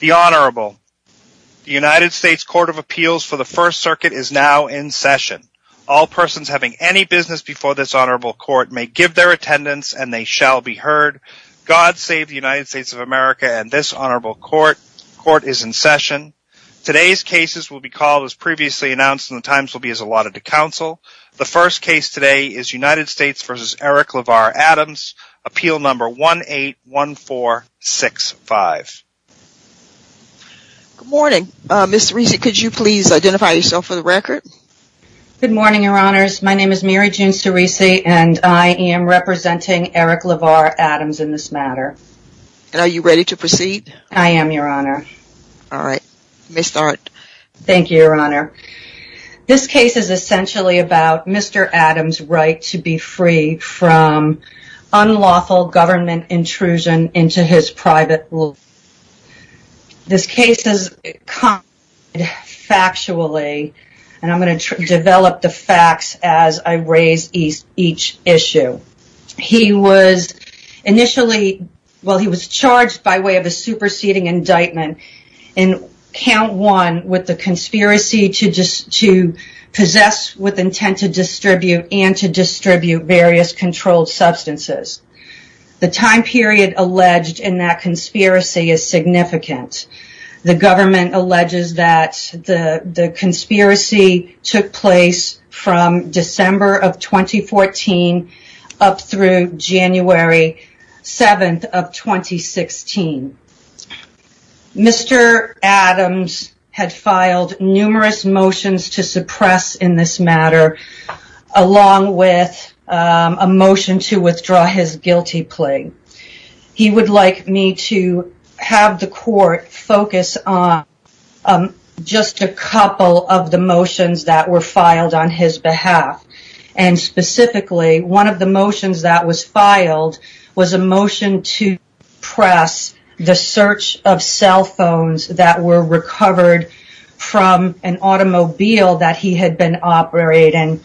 The United States Court of Appeals for the First Circuit is now in session. All persons having any business before this honorable court may give their attendance and they shall be heard. God save the United States of America and this honorable court. Court is in session. Today's cases will be called as previously announced and the times will be as allotted to counsel. The first case today is United States v. Eric LeVar Adams, appeal number 181465. Good morning. Ms. Teresi, could you please identify yourself for the record? Good morning, your honors. My name is Mary June Teresi and I am representing Eric LeVar Adams in this matter. And are you ready to proceed? I am, your honor. All right. Ms. Thornton. Thank you, your honor. This case is essentially about Mr. Adams' right to be free from unlawful government intrusion into his private life. This case is concocted factually and I am going to develop the facts as I raise each issue. He was charged by way of a superseding indictment in count one with the conspiracy to possess with intent to distribute and to distribute various controlled substances. The time period alleged in that conspiracy is significant. The government alleges that the conspiracy took place from December of 2014 up through January 7th of 2016. Mr. Adams had filed numerous motions to suppress in this matter along with a motion to withdraw his guilty plea. He would like me to have the court focus on just a couple of the motions that were filed on his behalf. And specifically, one of the motions that was filed was a motion to suppress the search of cell phones that were recovered from an automobile that he had been operating.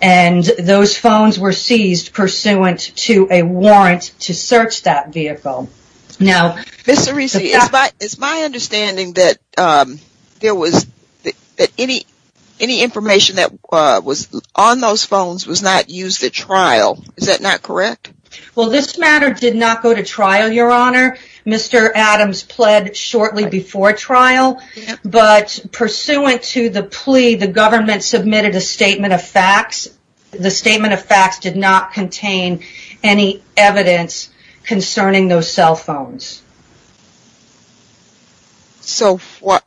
And those phones were seized pursuant to a warrant to search that vehicle. Ms. Cerise, it's my understanding that any information that was on those phones was not used at trial. Is that not correct? Well, this matter did not go to trial, your honor. Mr. Adams pled shortly before trial. But pursuant to the plea, the government submitted a statement of facts. The statement of facts did not contain any evidence concerning those cell phones. So what?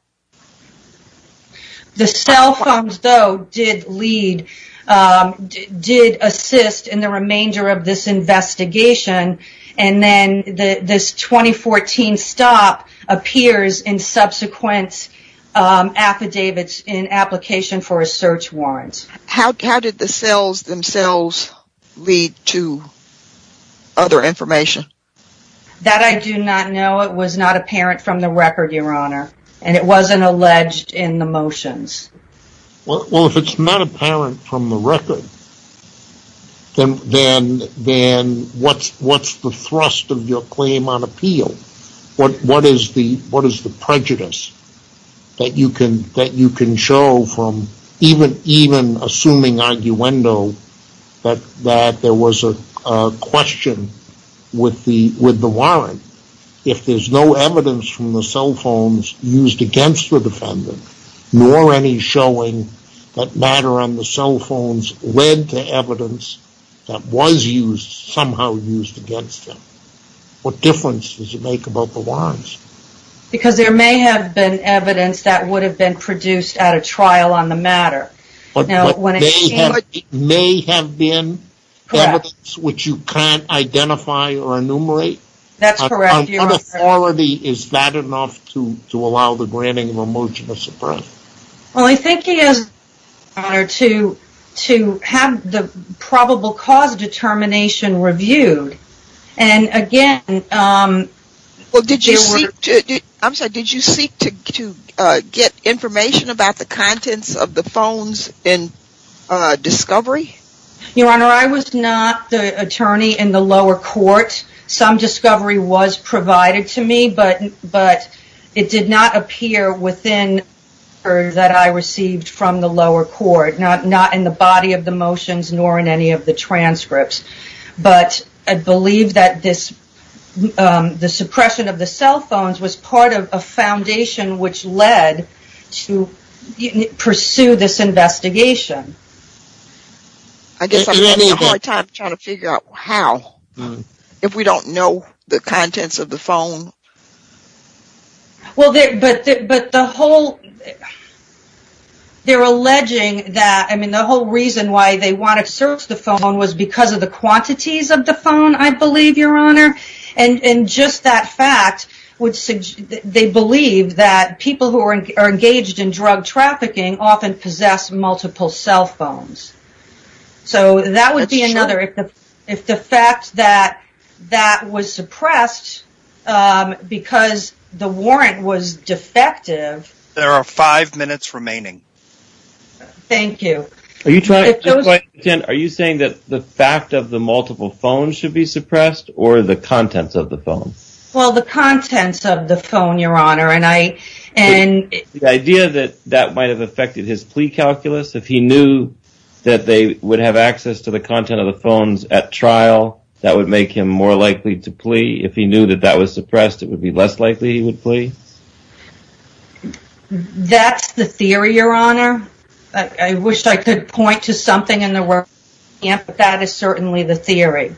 The cell phones, though, did lead, did assist in the remainder of this investigation. And then this 2014 stop appears in subsequent affidavits in application for a search warrant. How did the cells themselves lead to other information? That I do not know. It was not apparent from the record, your honor. And it wasn't alleged in the motions. Well, if it's not apparent from the record, then what's the thrust of your claim on appeal? What is the prejudice that you can show from even assuming arguendo that there was a question with the warrant? If there's no evidence from the cell phones used against the defendant, nor any showing that matter on the cell phones led to evidence that was used, somehow used against them, what difference does it make about the warrants? Because there may have been evidence that would have been produced at a trial on the matter. But there may have been evidence which you can't identify or enumerate? That's correct, your honor. On authority, is that enough to allow the granting of a motion to suppress? Well, I think it is, your honor, to have the probable cause determination reviewed Well, did you seek to get information about the contents of the phones in discovery? Your honor, I was not the attorney in the lower court. Some discovery was provided to me, but it did not appear within the records that I received from the lower court. Not in the body of the motions, nor in any of the transcripts. But I believe that the suppression of the cell phones was part of a foundation which led to pursue this investigation. I guess I'm having a hard time trying to figure out how, if we don't know the contents of the phone. Well, they're alleging that the whole reason why they wanted to search the phone was because of the quantities of the phone, I believe, your honor. And just that fact, they believe that people who are engaged in drug trafficking often possess multiple cell phones. So, that would be another, if the fact that that was suppressed because the warrant was defective. There are five minutes remaining. Thank you. Are you saying that the fact of the multiple phones should be suppressed, or the contents of the phone? Well, the contents of the phone, your honor. The idea that that might have affected his plea calculus? If he knew that they would have access to the content of the phones at trial, that would make him more likely to plea? If he knew that that was suppressed, it would be less likely he would plea? That's the theory, your honor. I wish I could point to something in the work, but that is certainly the theory.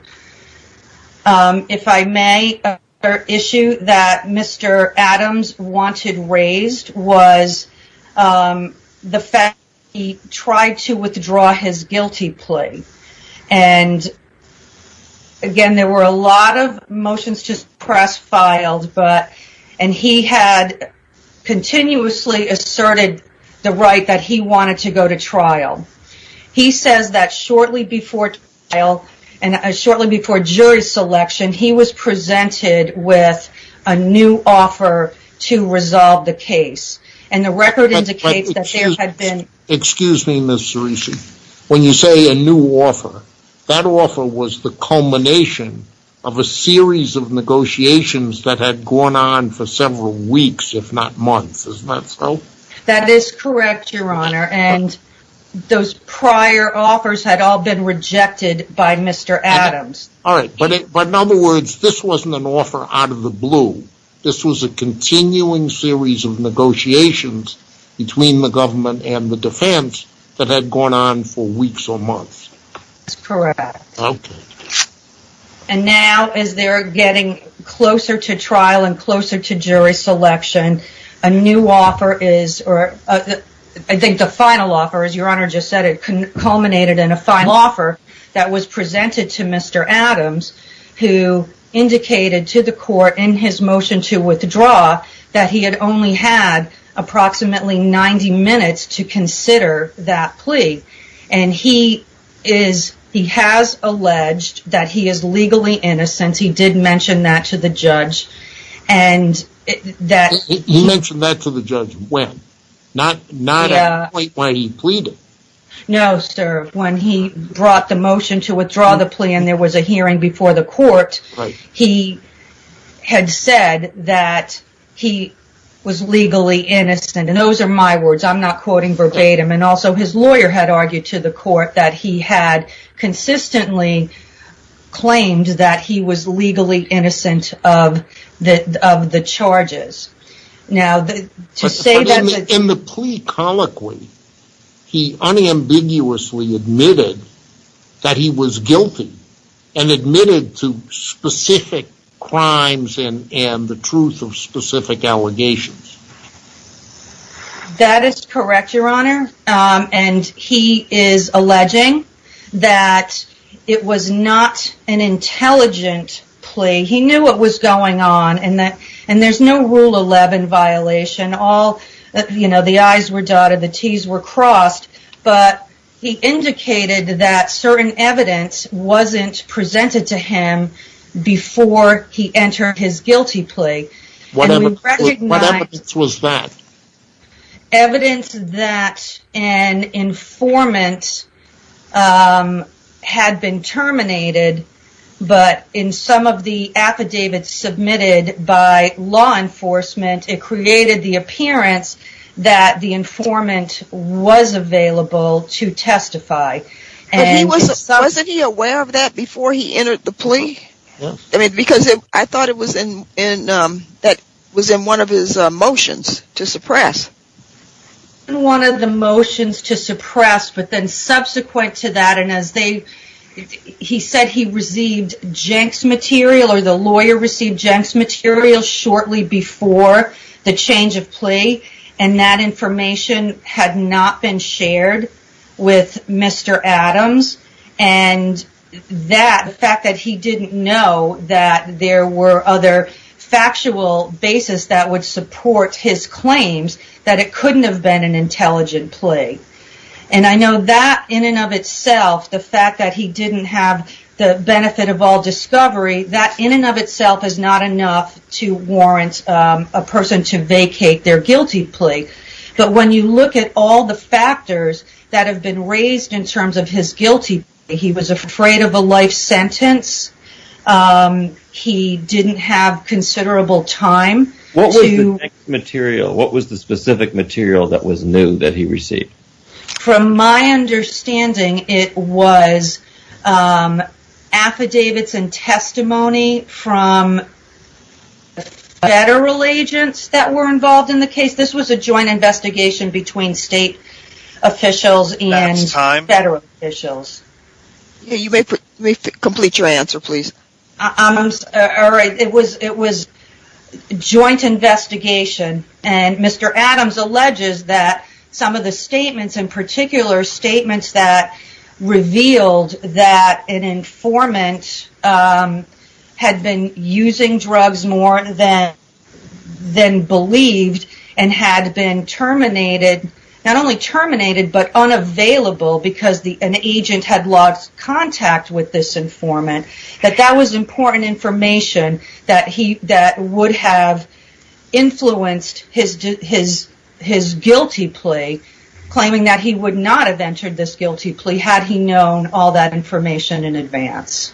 If I may, another issue that Mr. Adams wanted raised was the fact that he tried to withdraw his guilty plea. And, again, there were a lot of motions to suppress filed, and he had continuously asserted the right that he wanted to go to trial. He says that shortly before trial, and shortly before jury selection, he was presented with a new offer to resolve the case. And the record indicates that there had been... Excuse me, Ms. Cerici. When you say a new offer, that offer was the culmination of a series of negotiations that had gone on for several weeks, if not months. Isn't that so? That is correct, your honor, and those prior offers had all been rejected by Mr. Adams. Alright, but in other words, this wasn't an offer out of the blue. This was a continuing series of negotiations between the government and the defense that had gone on for weeks or months. That's correct. Okay. And now, as they're getting closer to trial and closer to jury selection, a new offer is... I think the final offer, as your honor just said, it culminated in a final offer that was presented to Mr. Adams, who indicated to the court in his motion to withdraw that he had only had approximately 90 minutes to consider that plea. And he has alleged that he is legally innocent. He did mention that to the judge. He mentioned that to the judge when? Not at the point when he pleaded? No, sir. When he brought the motion to withdraw the plea and there was a hearing before the court, he had said that he was legally innocent. And those are my words. I'm not quoting verbatim. And also, his lawyer had argued to the court that he had consistently claimed that he was legally innocent of the charges. Now, to say that... In the plea colloquy, he unambiguously admitted that he was guilty and admitted to specific crimes and the truth of specific allegations. That is correct, your honor. And he is alleging that it was not an intelligent plea. He knew what was going on and there's no Rule 11 violation. All... You know, the I's were dotted, the T's were crossed, but he indicated that certain evidence wasn't presented to him before he entered his guilty plea. What evidence was that? Evidence that an informant had been terminated, but in some of the affidavits submitted by law enforcement, it created the appearance that the informant was available to testify. Wasn't he aware of that before he entered the plea? Yes. Because I thought it was in one of his motions to suppress. One of the motions to suppress, but then subsequent to that, and as they... He said he received Jenks material or the lawyer received Jenks material shortly before the change of plea. And that information had not been shared with Mr. Adams. And the fact that he didn't know that there were other factual basis that would support his claims, that it couldn't have been an intelligent plea. And I know that in and of itself, the fact that he didn't have the benefit of all discovery, that in and of itself is not enough to warrant a person to vacate their guilty plea. But when you look at all the factors that have been raised in terms of his guilty, he was afraid of a life sentence. He didn't have considerable time. What was the Jenks material? What was the specific material that was new that he received? From my understanding, it was affidavits and testimony from federal agents that were involved in the case. This was a joint investigation between state officials and federal officials. You may complete your answer, please. It was a joint investigation. And Mr. Adams alleges that some of the statements, in particular statements that revealed that an informant had been using drugs more than believed and had been terminated. Not only terminated, but unavailable because an agent had lost contact with this informant. That that was important information that would have influenced his guilty plea, claiming that he would not have entered this guilty plea had he known all that information in advance.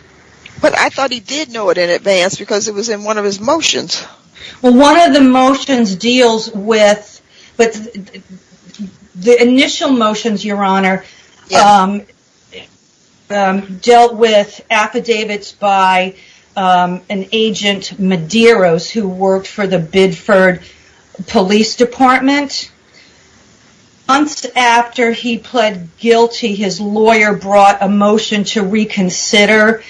But I thought he did know it in advance because it was in one of his motions. One of the motions deals with, the initial motions, your honor, dealt with affidavits by an agent Medeiros who worked for the Bidford Police Department. Months after he pled guilty, his lawyer brought a motion to reconsider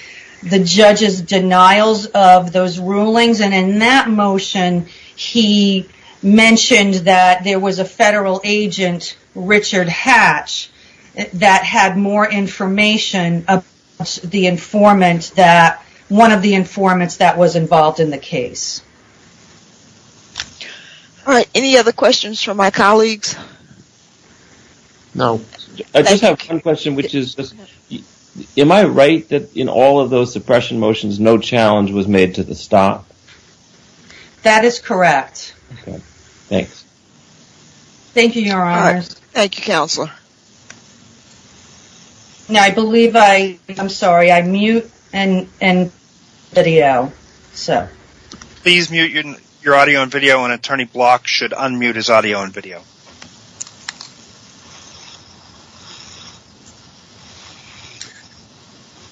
the judge's denials of those rulings. And in that motion, he mentioned that there was a federal agent, Richard Hatch, that had more information about one of the informants that was involved in the case. All right, any other questions from my colleagues? No. I just have one question, which is, am I right that in all of those suppression motions, no challenge was made to the stop? That is correct. Okay, thanks. Thank you, your honor. Thank you, counselor. Now, I believe I, I'm sorry, I mute and video, so. Please mute your audio and video and attorney Block should unmute his audio and video.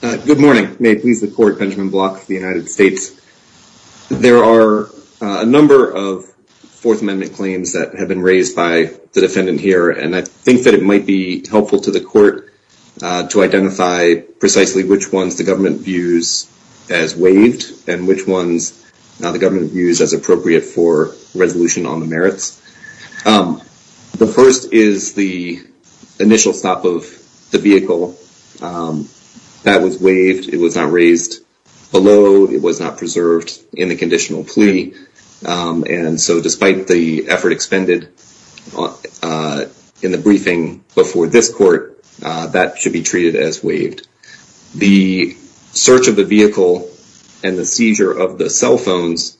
Good morning, may it please the court, Benjamin Block for the United States. There are a number of Fourth Amendment claims that have been raised by the defendant here, and I think that it might be helpful to the court to identify precisely which ones the government views as waived, and which ones the government views as appropriate for resolution on the merits. The first is the initial stop of the vehicle. That was waived. It was not raised below. It was not preserved in the conditional plea. And so despite the effort expended in the briefing before this court, that should be treated as waived. The search of the vehicle and the seizure of the cell phones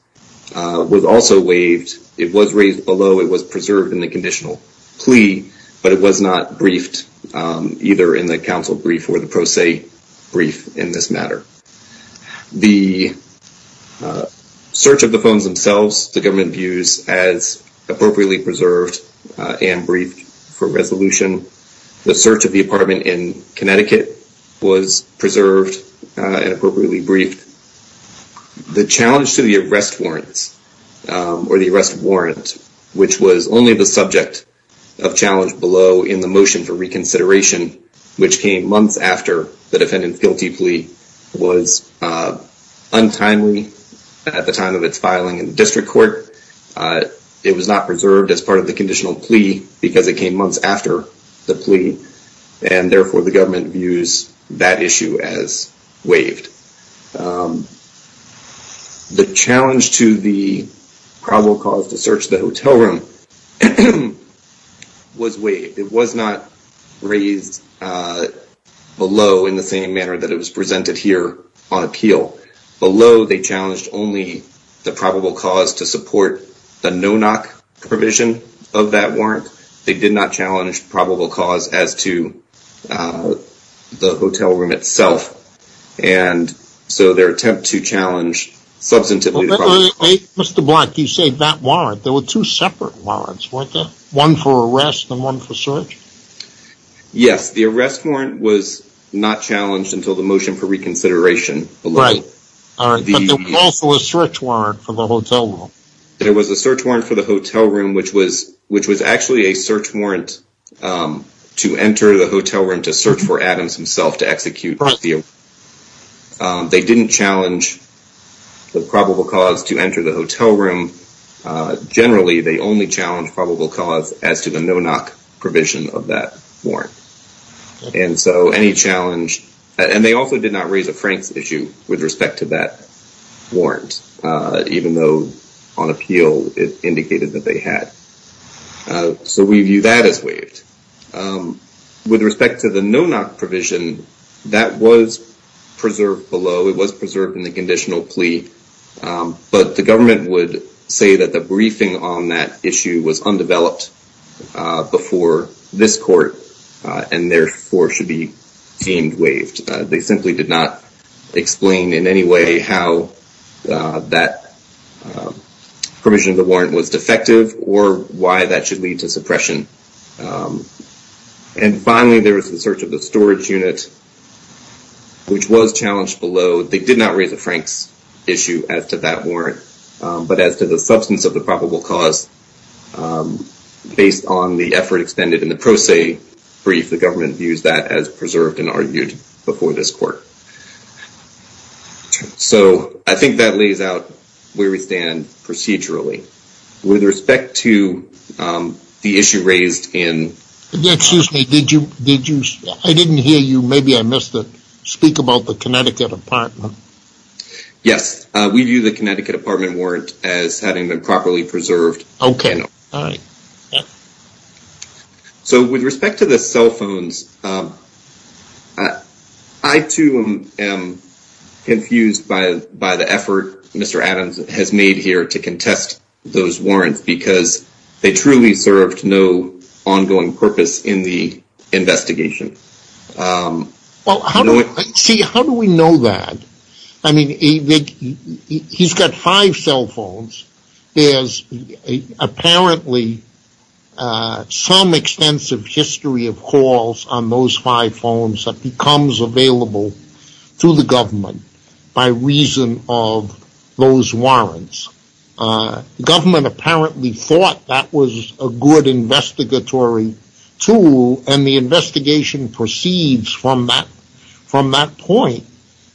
was also waived. It was raised below. It was preserved in the conditional plea, but it was not briefed either in the counsel brief or the pro se brief in this matter. The search of the phones themselves, the government views as appropriately preserved and briefed for resolution. The search of the apartment in Connecticut was preserved and appropriately briefed. The challenge to the arrest warrants or the arrest warrant, which was only the subject of challenge below in the motion for reconsideration, which came months after the defendant's guilty plea, was untimely at the time of its filing in the district court. It was not preserved as part of the conditional plea because it came months after the plea, and therefore the government views that issue as waived. The challenge to the probable cause to search the hotel room was waived. It was not raised below in the same manner that it was presented here on appeal. Below, they challenged only the probable cause to support the no-knock provision of that warrant. They did not challenge probable cause as to the hotel room itself, and so their attempt to challenge substantively the probable cause. Mr. Black, you say that warrant. There were two separate warrants, weren't there? One for arrest and one for search? Yes, the arrest warrant was not challenged until the motion for reconsideration. Right, but there was also a search warrant for the hotel room. There was a search warrant for the hotel room, which was actually a search warrant to enter the hotel room to search for Adams himself to execute. They didn't challenge the probable cause to enter the hotel room. Generally, they only challenged probable cause as to the no-knock provision of that warrant. They also did not raise a Franks issue with respect to that warrant, even though on appeal it indicated that they had. So we view that as waived. With respect to the no-knock provision, that was preserved below. It was preserved in the conditional plea, but the government would say that the briefing on that issue was undeveloped before this court and therefore should be deemed waived. They simply did not explain in any way how that provision of the warrant was defective or why that should lead to suppression. And finally, there was the search of the storage unit, which was challenged below. They did not raise a Franks issue as to that warrant, but as to the substance of the probable cause based on the effort expended in the pro se brief, the government views that as preserved and argued before this court. So I think that lays out where we stand procedurally. With respect to the issue raised in- Excuse me. I didn't hear you. Maybe I missed it. Speak about the Connecticut apartment. Yes. We view the Connecticut apartment warrant as having been properly preserved. Okay. All right. So with respect to the cell phones, I, too, am confused by the effort Mr. Adams has made here to contest those warrants because they truly served no ongoing purpose in the investigation. Well, see, how do we know that? I mean, he's got five cell phones. There's apparently some extensive history of calls on those five phones that becomes available to the government by reason of those warrants. The government apparently thought that was a good investigatory tool, and the investigation proceeds from that point.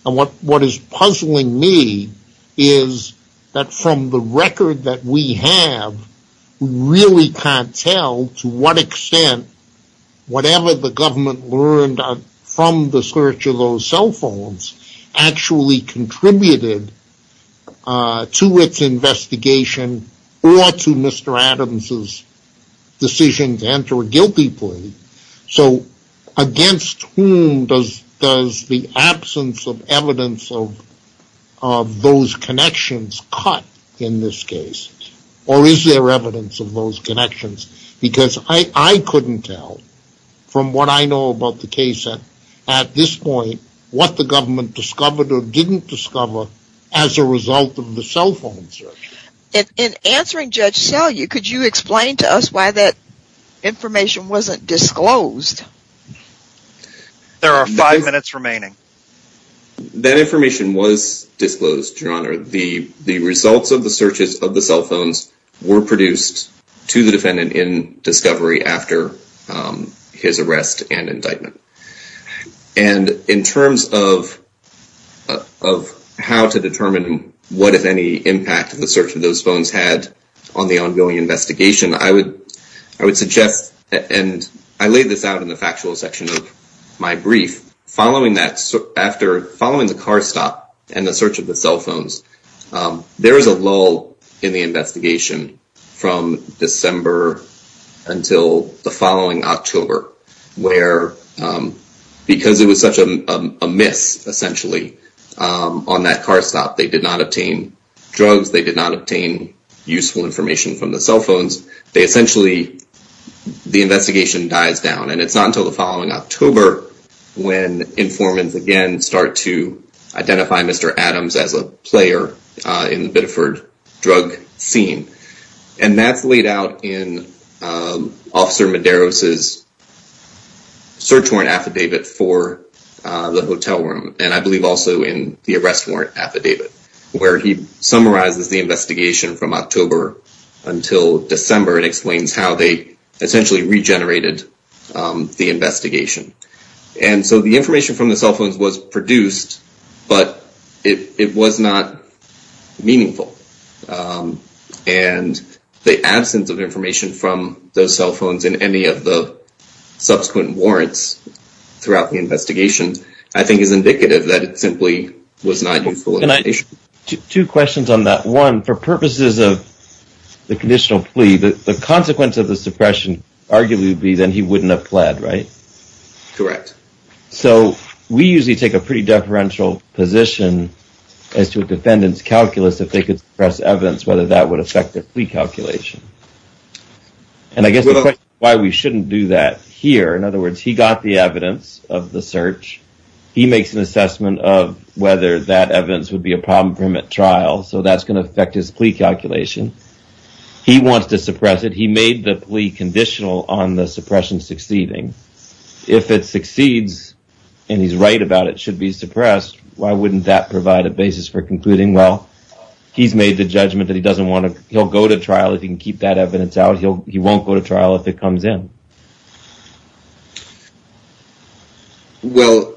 And what is puzzling me is that from the record that we have, we really can't tell to what extent whatever the government learned from the search of those cell phones actually contributed to its investigation or to Mr. Adams' decision to enter a guilty plea. So against whom does the absence of evidence of those connections cut in this case? Or is there evidence of those connections? Because I couldn't tell from what I know about the case at this point what the government discovered or didn't discover as a result of the cell phone search. In answering Judge Selye, could you explain to us why that information wasn't disclosed? There are five minutes remaining. That information was disclosed, Your Honor. The results of the searches of the cell phones were produced to the defendant in discovery after his arrest and indictment. And in terms of how to determine what, if any, impact the search of those phones had on the ongoing investigation, I would suggest, and I laid this out in the factual section of my brief, following the car stop and the search of the cell phones, there was a lull in the investigation from December until the following October, where, because it was such a miss, essentially, on that car stop, they did not obtain drugs, they did not obtain useful information from the cell phones, they essentially, the investigation dies down. And it's not until the following October when informants again start to identify Mr. Adams as a player in the Biddeford drug scene. And that's laid out in Officer Medeiros' search warrant affidavit for the hotel room, and I believe also in the arrest warrant affidavit, where he summarizes the investigation from October until December and explains how they essentially regenerated the investigation. And so the information from the cell phones was produced, but it was not meaningful. And the absence of information from those cell phones in any of the subsequent warrants throughout the investigation, I think is indicative that it simply was not useful information. Two questions on that. One, for purposes of the conditional plea, the consequence of the suppression arguably would be that he wouldn't have pled, right? Correct. So we usually take a pretty deferential position as to a defendant's calculus if they could suppress evidence, whether that would affect the plea calculation. And I guess why we shouldn't do that here. In other words, he got the evidence of the search. He makes an assessment of whether that evidence would be a problem for him at trial. So that's going to affect his plea calculation. He wants to suppress it. He made the plea conditional on the suppression succeeding. If it succeeds and he's right about it should be suppressed. Why wouldn't that provide a basis for concluding? Well, he's made the judgment that he doesn't want to. He'll go to trial if he can keep that evidence out. He won't go to trial if it comes in. Well,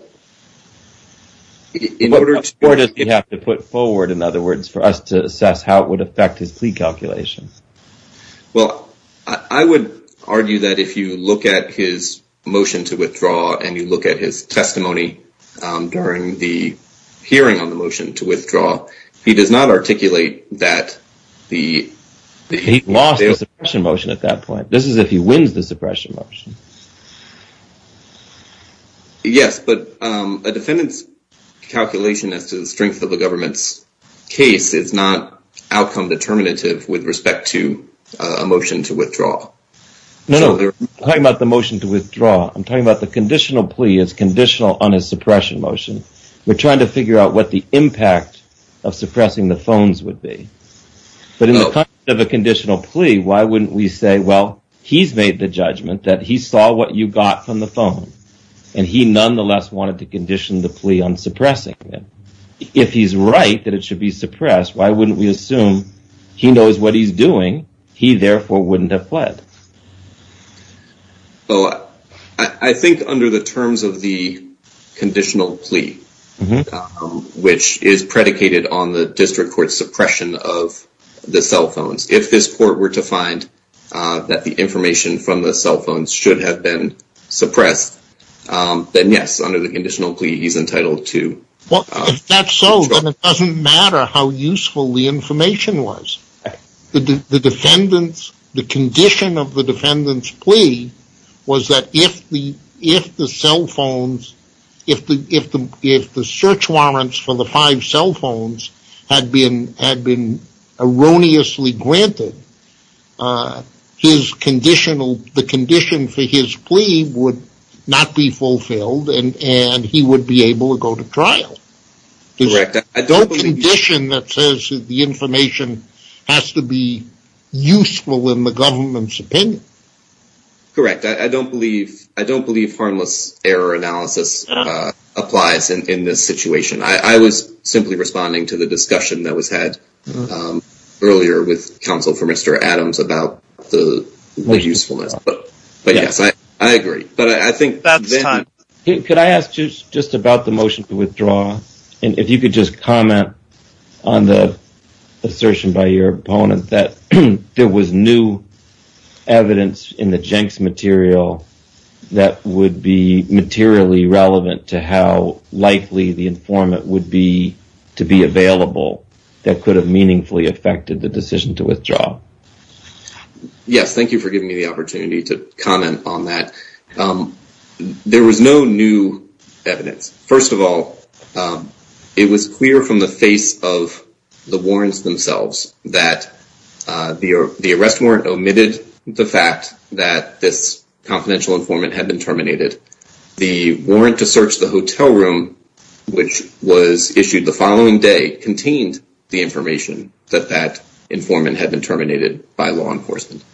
in order to put forward, in other words, for us to assess how it would affect his plea calculations. Well, I would argue that if you look at his motion to withdraw and you look at his testimony during the hearing on the motion to withdraw, he does not articulate that the. He lost his motion at that point. This is if he wins the suppression motion. Yes, but a defendant's calculation as to the strength of the government's case is not outcome determinative with respect to a motion to withdraw. No, I'm talking about the motion to withdraw. I'm talking about the conditional plea is conditional on a suppression motion. We're trying to figure out what the impact of suppressing the phones would be. But in the context of a conditional plea, why wouldn't we say, well, he's made the judgment that he saw what you got from the phone and he nonetheless wanted to condition the plea on suppressing it. If he's right that it should be suppressed, why wouldn't we assume he knows what he's doing? He therefore wouldn't have fled. Oh, I think under the terms of the conditional plea, which is predicated on the district court suppression of the cell phones. If this court were to find that the information from the cell phones should have been suppressed, then yes, under the conditional plea, he's entitled to. Well, if that's so, then it doesn't matter how useful the information was. The condition of the defendant's plea was that if the search warrants for the five cell phones had been erroneously granted, the condition for his plea would not be fulfilled and he would be able to go to trial. There's no condition that says that the information has to be useful in the government's opinion. Correct. I don't believe harmless error analysis applies in this situation. I was simply responding to the discussion that was had earlier with counsel for Mr. Adams about the usefulness. But yes, I agree. That's time. Could I ask you just about the motion to withdraw? And if you could just comment on the assertion by your opponent that there was new evidence in the Jenks material that would be materially relevant to how likely the informant would be to be available that could have meaningfully affected the decision to withdraw. Yes, thank you for giving me the opportunity to comment on that. There was no new evidence. First of all, it was clear from the face of the warrants themselves that the arrest warrant omitted the fact that this confidential informant had been terminated. The warrant to search the hotel room, which was issued the following day, contained the information that that informant had been terminated by law enforcement.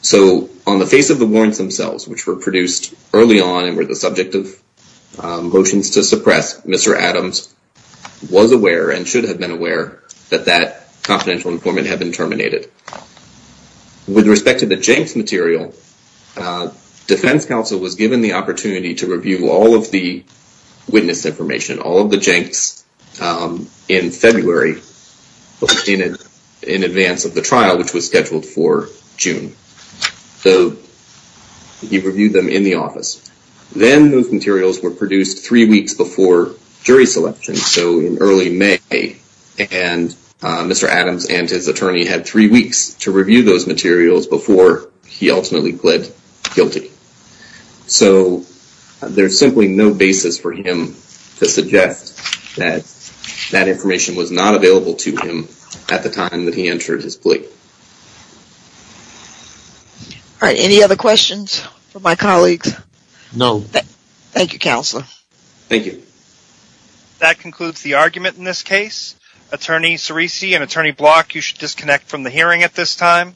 So on the face of the warrants themselves, which were produced early on and were the subject of motions to suppress, Mr. Adams was aware and should have been aware that that confidential informant had been terminated. With respect to the Jenks material, defense counsel was given the opportunity to review all of the witness information, all of the Jenks in February in advance of the trial, which was scheduled for June. So he reviewed them in the office. Then those materials were produced three weeks before jury selection, so in early May. And Mr. Adams and his attorney had three weeks to review those materials before he ultimately pled guilty. So there's simply no basis for him to suggest that that information was not available to him at the time that he entered his plea. All right. Any other questions for my colleagues? No. Thank you, Counselor. Thank you. That concludes the argument in this case. Attorney Ceresi and Attorney Block, you should disconnect from the hearing at this time.